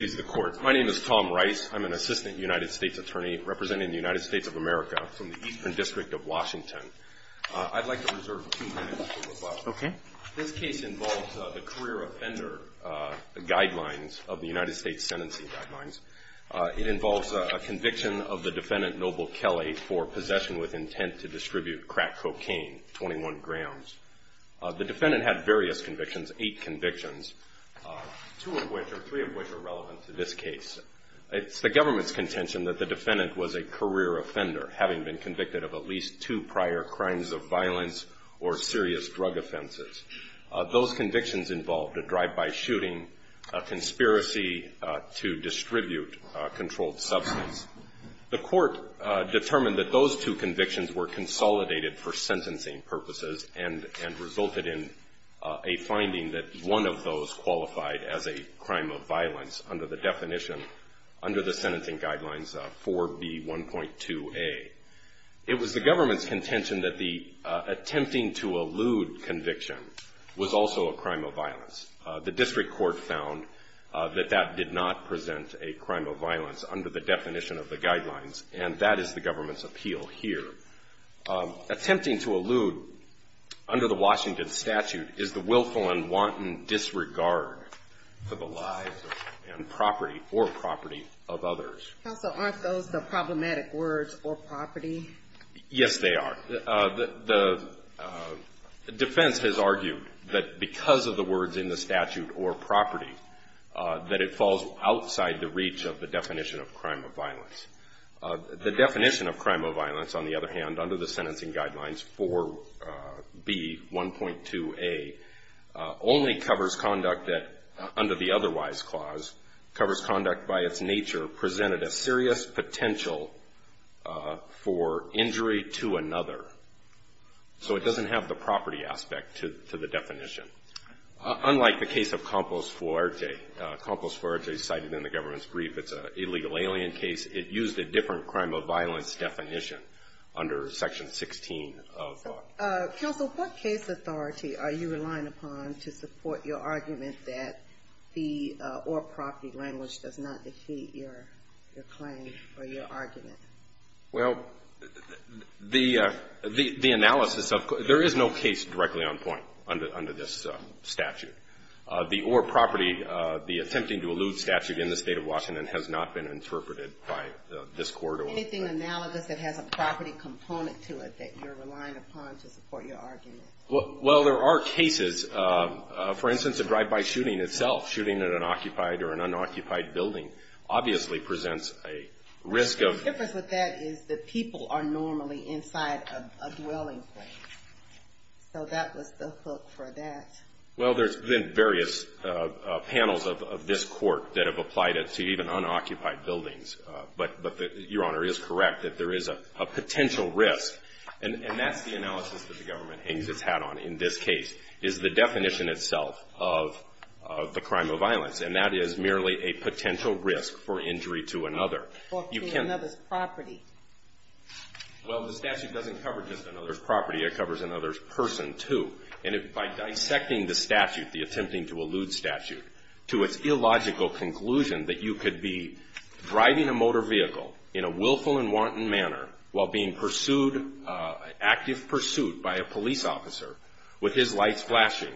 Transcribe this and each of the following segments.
is the court. My name is Tom Rice. I'm an assistant United States attorney representing the United States of America from the Eastern District of Washington. I'd like to reserve two minutes for the following. This case involves the career offender guidelines of the United States sentencing guidelines. It involves a conviction of the defendant, Noble Kelly, for possession with intent to distribute crack cocaine, 21 grams. The defendant had various convictions, eight convictions, two of which, or three of which are relevant. It's the government's contention that the defendant was a career offender, having been convicted of at least two prior crimes of violence or serious drug offenses. Those convictions involved a drive-by shooting, a conspiracy to distribute controlled substance. The court determined that those two convictions were consolidated for sentencing purposes and resulted in a finding that one of those qualified as a crime of violence under the U.S. Constitution. It was the government's contention that the tempting to allude conviction was also a crime of violence. The district court found that that did not present a crime of violence under the definition of the guidelines and that is the government's appeal here. Attempting to allude, under the Washington statute, is the willful and wanton disregard for… And property or property of others. Counsel, aren't those the problematic words or property? Yes, they are. The defense has argued that because of the words in the statute or property, that it falls outside the reach of the definition of crime of violence. The definition of crime of violence, on the other hand, under the sentencing guidelines 4B, 1.2A, only covers conduct that, under the otherwise clause, covers conduct by its nature presented a serious potential for injury to another. So it doesn't have the property aspect to the definition. Unlike the case of Campos Fuerte, Campos Fuerte cited in the government's brief, it's an illegal alien case. It used a different crime of violence definition under section 16 of… Counsel, what case authority are you relying upon to support your argument that the or property language does not defeat your claim or your argument? Well, the analysis of… There is no case directly on point under this statute. The or property, the attempting to allude statute in the State of Washington has not been interpreted by this court or… Anything analogous that has a property component to it that you're relying upon to support your argument? Well, there are cases. For instance, a drive-by shooting itself, shooting at an occupied or an unoccupied building, obviously presents a risk of… The difference with that is that people are normally inside a dwelling point. So that was the hook for that. Well, there's been various panels of this court that have applied it to even unoccupied buildings. But Your Honor is correct that there is a potential risk. And that's the analysis that the government hangs its hat on in this case, is the definition itself of the crime of violence. And that is merely a potential risk for injury to another. Or to another's property. Well, the statute doesn't cover just another's property. It covers another's person, too. And by dissecting the statute, the attempting to allude statute, to its illogical conclusion that you could be driving a motor vehicle in a willful and wanton manner while being pursued, active pursuit by a police officer with his lights flashing,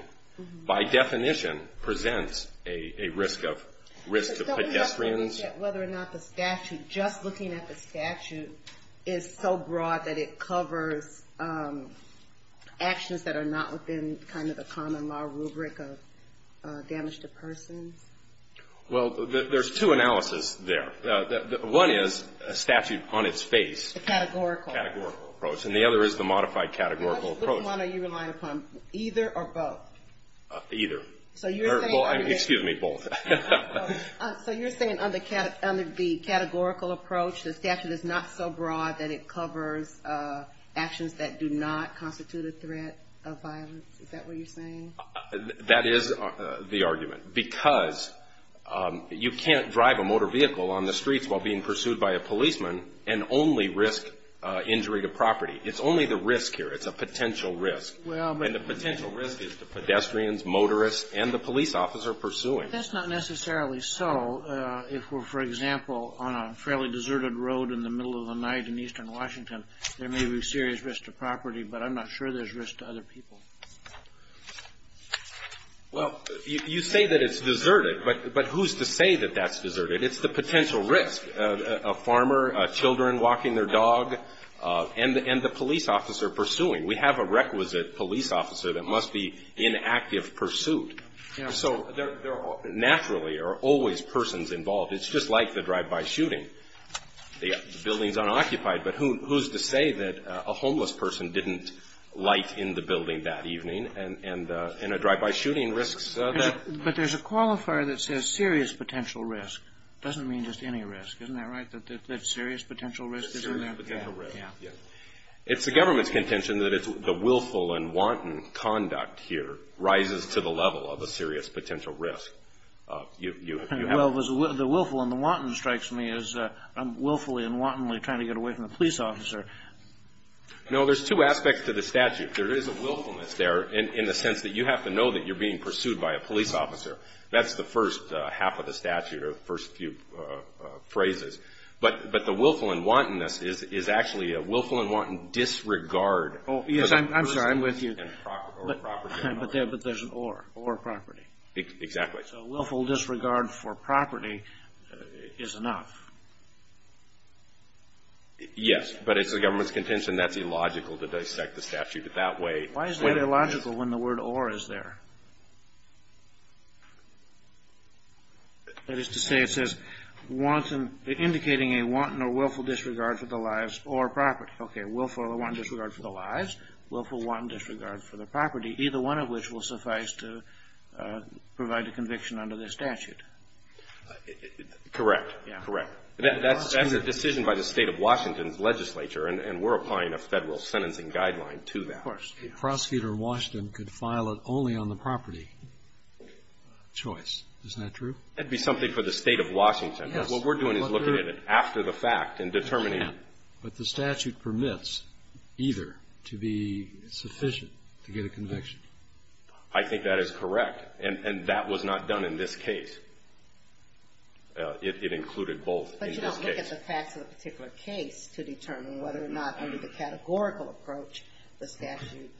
by definition presents a risk of pedestrians… I forget whether or not the statute, just looking at the statute, is so broad that it covers actions that are not within kind of the common law rubric of damage to persons. Well, there's two analyses there. One is a statute on its face. A categorical. A categorical approach. And the other is the modified categorical approach. Which one are you relying upon, either or both? Either. So you're saying… Excuse me, both. So you're saying under the categorical approach, the statute is not so broad that it covers actions that do not constitute a threat of violence? Is that what you're saying? That is the argument. Because you can't drive a motor vehicle on the streets while being pursued by a policeman and only risk injury to property. It's only the risk here. It's a potential risk. Well, but… And the potential risk is the pedestrians, motorists, and the police officer pursuing. That's not necessarily so. If we're, for example, on a fairly deserted road in the middle of the night in eastern Washington, there may be serious risk to property. But I'm not sure there's risk to other people. Well, you say that it's deserted. But who's to say that that's deserted? It's the potential risk. A farmer, children walking their dog, and the police officer pursuing. We have a requisite police officer that must be in active pursuit. So there naturally are always persons involved. It's just like the drive-by shooting. The building's unoccupied. But who's to say that a homeless person didn't light in the building that evening and a drive-by shooting risks that? But there's a qualifier that says serious potential risk. It doesn't mean just any risk. Isn't that right? That serious potential risk is in there? Serious potential risk. Yeah. It's the government's contention that it's the willful and wanton conduct here rises to the level of a serious potential risk. Well, the willful and the wanton strikes me as I'm willfully and wantonly trying to get away from the police officer. No, there's two aspects to the statute. There is a willfulness there in the sense that you have to know that you're being pursued by a police officer. That's the first half of the statute or the first few phrases. But the willful and wantonness is actually a willful and wanton disregard. Yes, I'm sorry. I'm with you. But there's an or, or property. Exactly. So willful disregard for property is enough. Yes, but it's the government's contention that's illogical to dissect the statute that way. Why is that illogical when the word or is there? That is to say it says wanton, indicating a wanton or willful disregard for the lives or property. Okay. Willful or wanton disregard for the lives, willful or wanton disregard for the property, either one of which will suffice to provide a conviction under this statute. Correct. Yeah. Correct. That's a decision by the State of Washington's legislature, and we're applying a federal sentencing guideline to that. Of course. A prosecutor in Washington could file it only on the property choice. Isn't that true? That would be something for the State of Washington. Yes. But what we're doing is looking at it after the fact and determining. But the statute permits either to be sufficient to get a conviction. I think that is correct. It included both in this case. But you don't look at the facts of a particular case to determine whether or not under the categorical approach the statute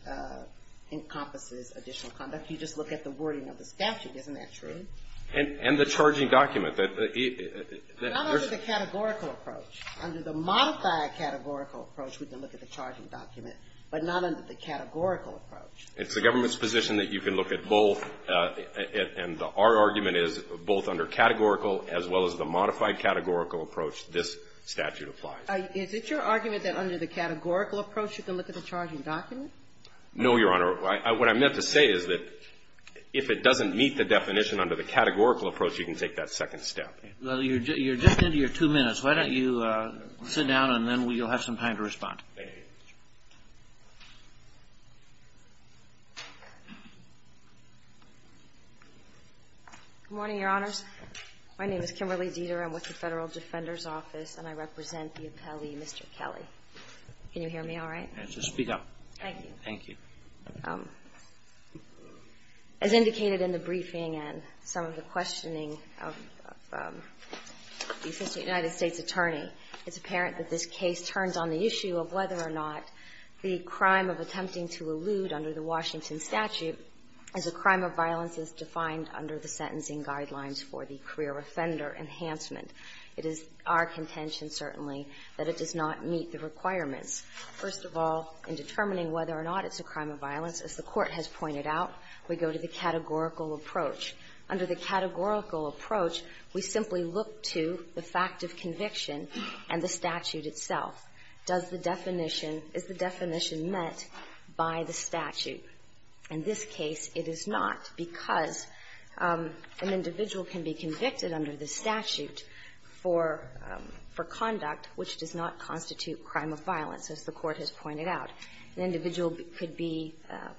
encompasses additional conduct. You just look at the wording of the statute. Isn't that true? And the charging document. Not under the categorical approach. Under the modified categorical approach, we can look at the charging document, but not under the categorical approach. It's the government's position that you can look at both, and our argument is both under categorical as well as the modified categorical approach this statute applies. Is it your argument that under the categorical approach you can look at the charging document? No, Your Honor. What I meant to say is that if it doesn't meet the definition under the categorical approach, you can take that second step. Well, you're just into your two minutes. Why don't you sit down, and then you'll have some time to respond. Okay. Good morning, Your Honors. My name is Kimberly Dieter. I'm with the Federal Defender's Office, and I represent the appellee, Mr. Kelly. Can you hear me all right? Yes. Just speak up. Thank you. Thank you. As indicated in the briefing and some of the questioning of the Assistant United States Attorney, it's apparent that this case turns on the issue of whether or not the crime of attempting to elude under the Washington statute is a crime of violence as defined under the sentencing guidelines for the career offender enhancement. It is our contention, certainly, that it does not meet the requirements. First of all, in determining whether or not it's a crime of violence, as the Court has pointed out, we go to the categorical approach. Under the categorical approach, we simply look to the fact of conviction and the statute itself. Does the definition – is the definition met by the statute? In this case, it is not, because an individual can be convicted under the statute for conduct which does not constitute crime of violence, as the Court has pointed out. An individual could be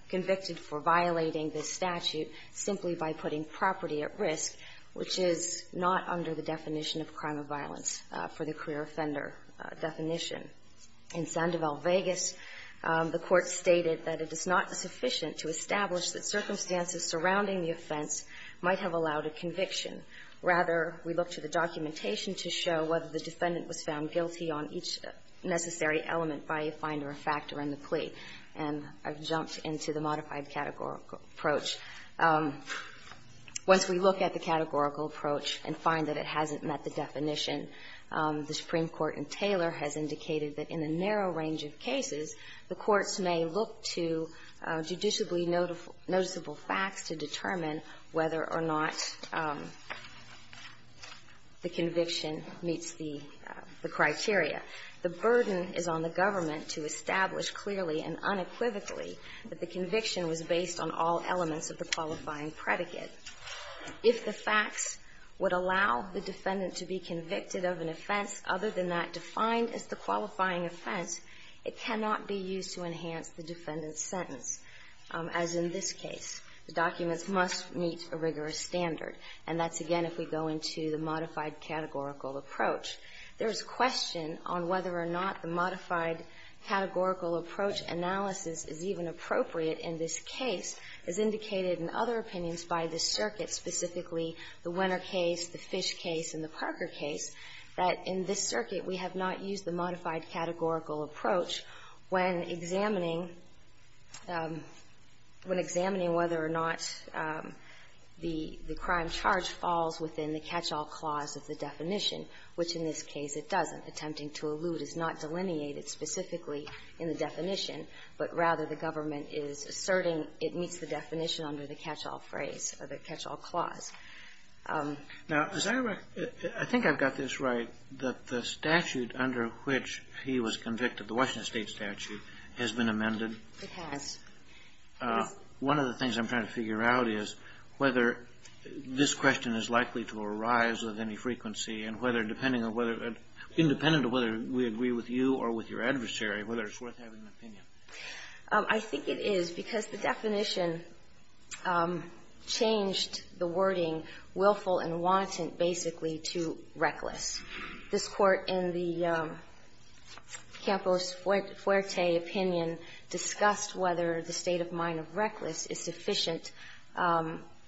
convicted for violating the statute simply by putting property at risk, which is not under the definition of crime of violence for the career offender definition. In Sandoval, Vegas, the Court stated that it is not sufficient to establish that circumstances surrounding the offense might have allowed a conviction. Rather, we look to the documentation to show whether the defendant was found guilty on each necessary element by a find or a factor in the plea. And I've jumped into the modified categorical approach. Once we look at the categorical approach and find that it hasn't met the definition, the Supreme Court in Taylor has indicated that in a narrow range of cases, the courts may look to judicially noticeable facts to determine whether or not the conviction meets the criteria. The burden is on the government to establish clearly and unequivocally that the conviction was based on all elements of the qualifying predicate. If the facts would allow the defendant to be convicted of an offense other than that defined as the qualifying offense, it cannot be used to enhance the defendant's sentence, as in this case. The documents must meet a rigorous standard. And that's, again, if we go into the modified categorical approach. There is question on whether or not the modified categorical approach analysis is even appropriate in this case, as indicated in other opinions by this circuit, specifically the Winner case, the Fish case, and the Parker case, that in this circuit we have not used the modified categorical approach when examining, when examining whether or not the crime charge falls within the catch-all clause of the definition, which in this case it doesn't. Attempting to allude is not delineated specifically in the definition, but rather the government is asserting it meets the definition under the catch-all phrase or the catch-all clause. Now, is that right? I think I've got this right, that the statute under which he was convicted, the Washington State statute, has been amended. It has. One of the things I'm trying to figure out is whether this question is likely to arise with any frequency and whether, depending on whether, independent of whether we agree with you or with your adversary, whether it's worth having an opinion. I think it is, because the definition changed the wording, willful and wanton, basically to reckless. This Court in the Campos-Fuerte opinion discussed whether the state of mind of reckless is sufficient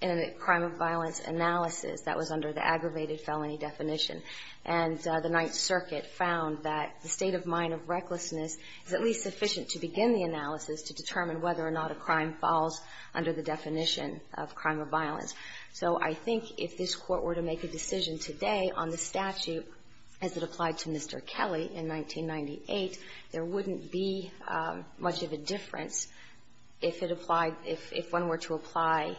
in a crime of violence analysis that was under the aggravated felony definition. And the Ninth Circuit found that the state of mind of recklessness is at least sufficient to begin the analysis to determine whether or not a crime falls under the definition of crime of violence. So I think if this Court were to make a decision today on the statute as it applied to Mr. Kelly in 1998, there wouldn't be much of a difference if it applied, if the statute, if one were to apply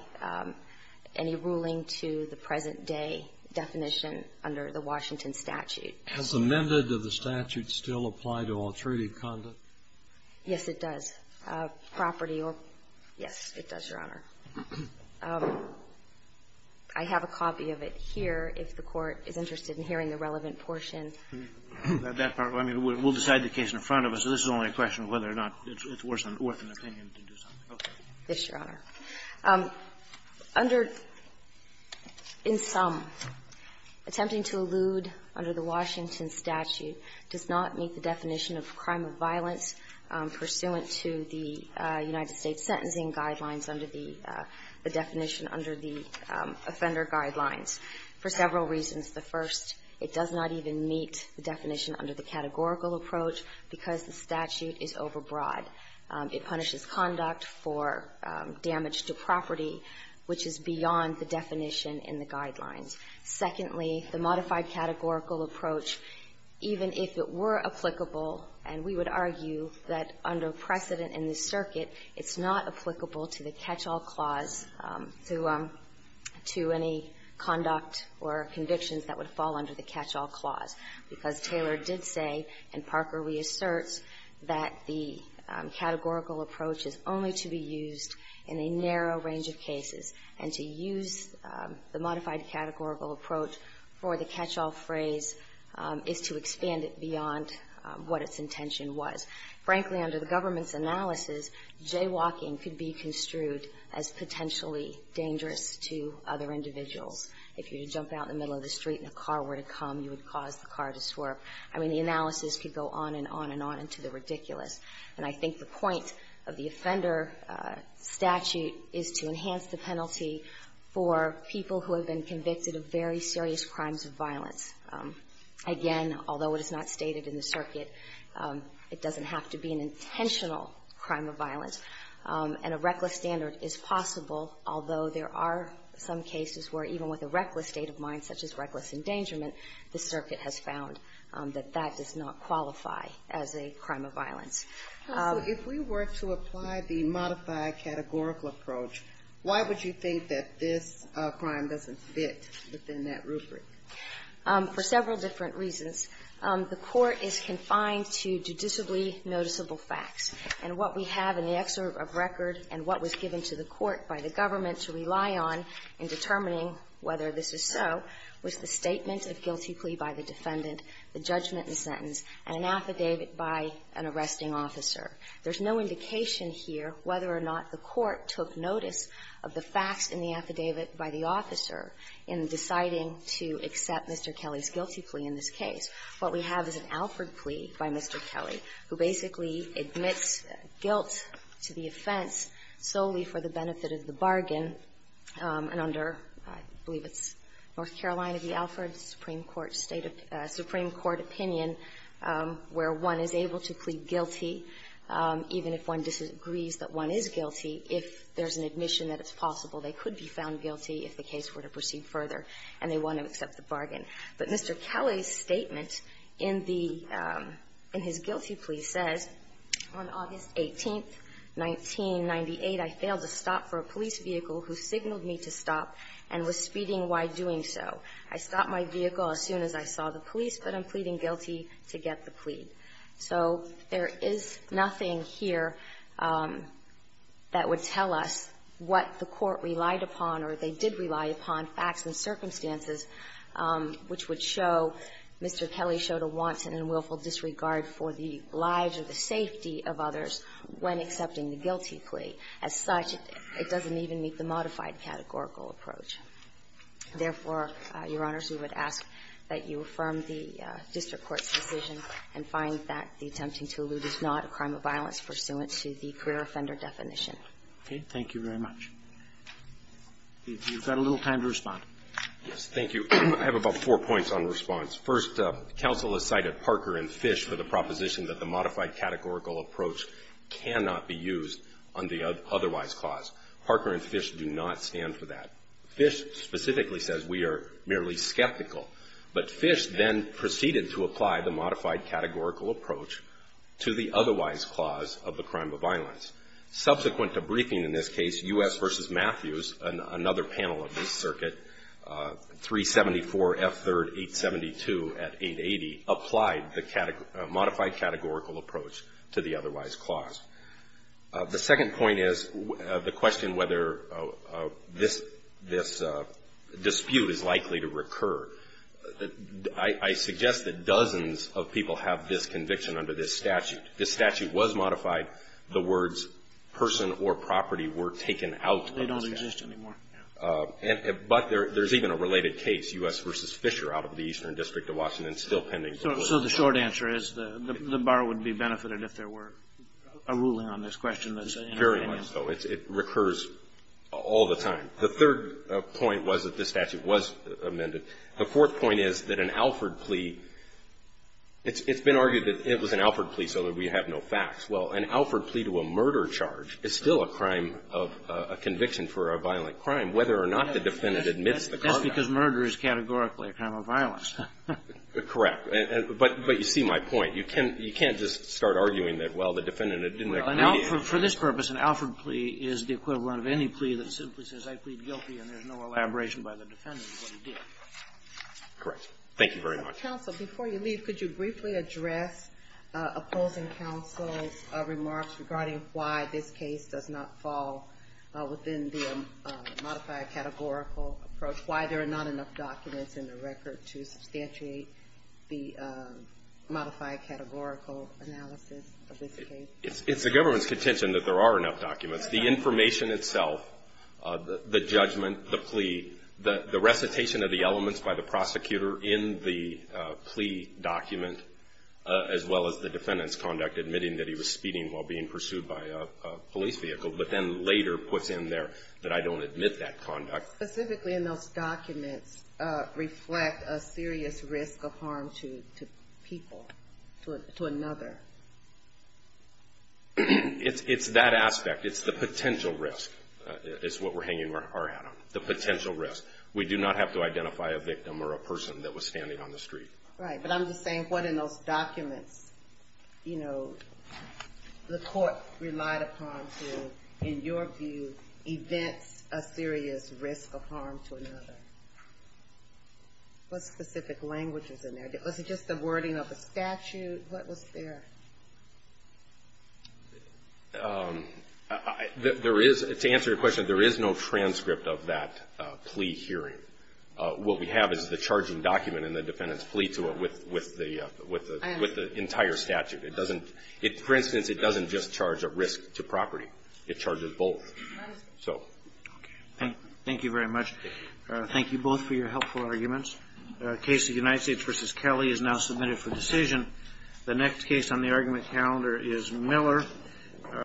any ruling to the present-day definition under the Washington statute. Has amended of the statute still apply to all treaty conduct? Yes, it does. Property or yes, it does, Your Honor. I have a copy of it here, if the Court is interested in hearing the relevant portion. That part, I mean, we'll decide the case in front of us. This is only a question of whether or not it's worth an opinion to do something. Yes, Your Honor. Under the statute, in sum, attempting to elude under the Washington statute does not meet the definition of crime of violence pursuant to the United States sentencing guidelines under the definition under the offender guidelines for several reasons. The first, it does not even meet the definition under the categorical approach because the statute is overbroad. It punishes conduct for damage to property, which is beyond the definition in the guidelines. Secondly, the modified categorical approach, even if it were applicable, and we would argue that under precedent in the circuit, it's not applicable to the catch-all clause to any conduct or convictions that would fall under the catch-all clause, because Taylor did say, and Parker reasserts, that the categorical approach is only to be used in a narrow range of cases. And to use the modified categorical approach for the catch-all phrase is to expand it beyond what its intention was. Frankly, under the government's analysis, jaywalking could be construed as potentially dangerous to other individuals. If you were to jump out in the middle of the street and a car were to come, you would cause the car to swerve. I mean, the analysis could go on and on and on into the ridiculous. And I think the point of the offender statute is to enhance the penalty for people who have been convicted of very serious crimes of violence. Again, although it is not stated in the circuit, it doesn't have to be an intentional crime of violence. And a reckless standard is possible, although there are some cases where even with a reckless state of mind, such as reckless endangerment, the circuit has found that that does not qualify as a crime of violence. Ginsburg. So if we were to apply the modified categorical approach, why would you think that this crime doesn't fit within that rubric? For several different reasons. The Court is confined to judicially noticeable facts. And what we have in the excerpt of record and what was given to the Court by the government to rely on in determining whether this is so was the statement of guilty plea by the defendant, the judgment and sentence, and an affidavit by an arresting officer. There's no indication here whether or not the Court took notice of the facts in the affidavit by the officer in deciding to accept Mr. Kelly's guilty plea in this case. What we have is an Alford plea by Mr. Kelly, who basically admits guilt to the offense solely for the benefit of the bargain, and under, I believe it's North Carolina, the Alford Supreme Court State of the Supreme Court opinion, where one is able to plead guilty, even if one disagrees that one is guilty, if there's an admission that it's possible they could be found guilty if the case were to proceed further and they want to accept the bargain. But Mr. Kelly's statement in the – in his guilty plea says, on August 18th, 1998, I failed to stop for a police vehicle who signaled me to stop and was speeding while doing so. I stopped my vehicle as soon as I saw the police, but I'm pleading guilty to get the plea. So there is nothing here that would tell us what the Court relied upon or they did rely upon, facts and circumstances, which would show Mr. Kelly showed a wanton and willful disregard for the lives or the safety of others when accepting the guilty plea. As such, it doesn't even meet the modified categorical approach. Therefore, Your Honors, we would ask that you affirm the district court's decision and find that the attempting to elude is not a crime of violence pursuant to the career offender definition. Roberts. Okay. Thank you very much. You've got a little time to respond. Yes. Thank you. I have about four points on response. First, counsel has cited Parker and Fish for the proposition that the modified categorical approach cannot be used on the otherwise clause. Parker and Fish do not stand for that. Fish specifically says we are merely skeptical. But Fish then proceeded to apply the modified categorical approach to the otherwise clause of the crime of violence. Subsequent to briefing in this case, U.S. v. Matthews, another panel of this case, 374 F. 3rd 872 at 880, applied the modified categorical approach to the otherwise clause. The second point is the question whether this dispute is likely to recur. I suggest that dozens of people have this conviction under this statute. This statute was modified. The words person or property were taken out of this statute. They don't exist anymore. But there's even a related case, U.S. v. Fisher, out of the Eastern District of Washington, still pending. So the short answer is the bar would be benefited if there were a ruling on this question that's in our opinion. Very much so. It recurs all the time. The third point was that this statute was amended. The fourth point is that an Alford plea, it's been argued that it was an Alford plea so that we have no facts. Well, an Alford plea to a murder charge is still a crime of a conviction for a violent crime whether or not the defendant admits the crime. That's because murder is categorically a crime of violence. Correct. But you see my point. You can't just start arguing that, well, the defendant didn't agree. For this purpose, an Alford plea is the equivalent of any plea that simply says, I plead guilty, and there's no elaboration by the defendant of what he did. Correct. Thank you very much. Counsel, before you leave, could you briefly address opposing counsel's remarks regarding why this case does not fall within the modified categorical approach, why there are not enough documents in the record to substantiate the modified categorical analysis of this case? It's the government's contention that there are enough documents. The information itself, the judgment, the plea, the recitation of the elements by the prosecutor in the plea document, as well as the defendant's conduct admitting that he was speeding while being pursued by a police vehicle, but then later puts in there that I don't admit that conduct. Specifically in those documents reflect a serious risk of harm to people, to another. It's that aspect. It's the potential risk. It's what we're hanging our hat on. The potential risk. We do not have to identify a victim or a person that was standing on the street. Right. But I'm just saying, what in those documents, you know, the court relied upon to, in your view, event a serious risk of harm to another? What specific languages are there? Was it just the wording of the statute? What was there? There is, to answer your question, there is no transcript of that plea hearing. What we have is the charging document and the defendant's plea to it with the entire statute. It doesn't, for instance, it doesn't just charge a risk to property. It charges both. Thank you very much. Thank you both for your helpful arguments. The case of United States v. Kelly is now submitted for decision. The next case on the argument calendar is Miller.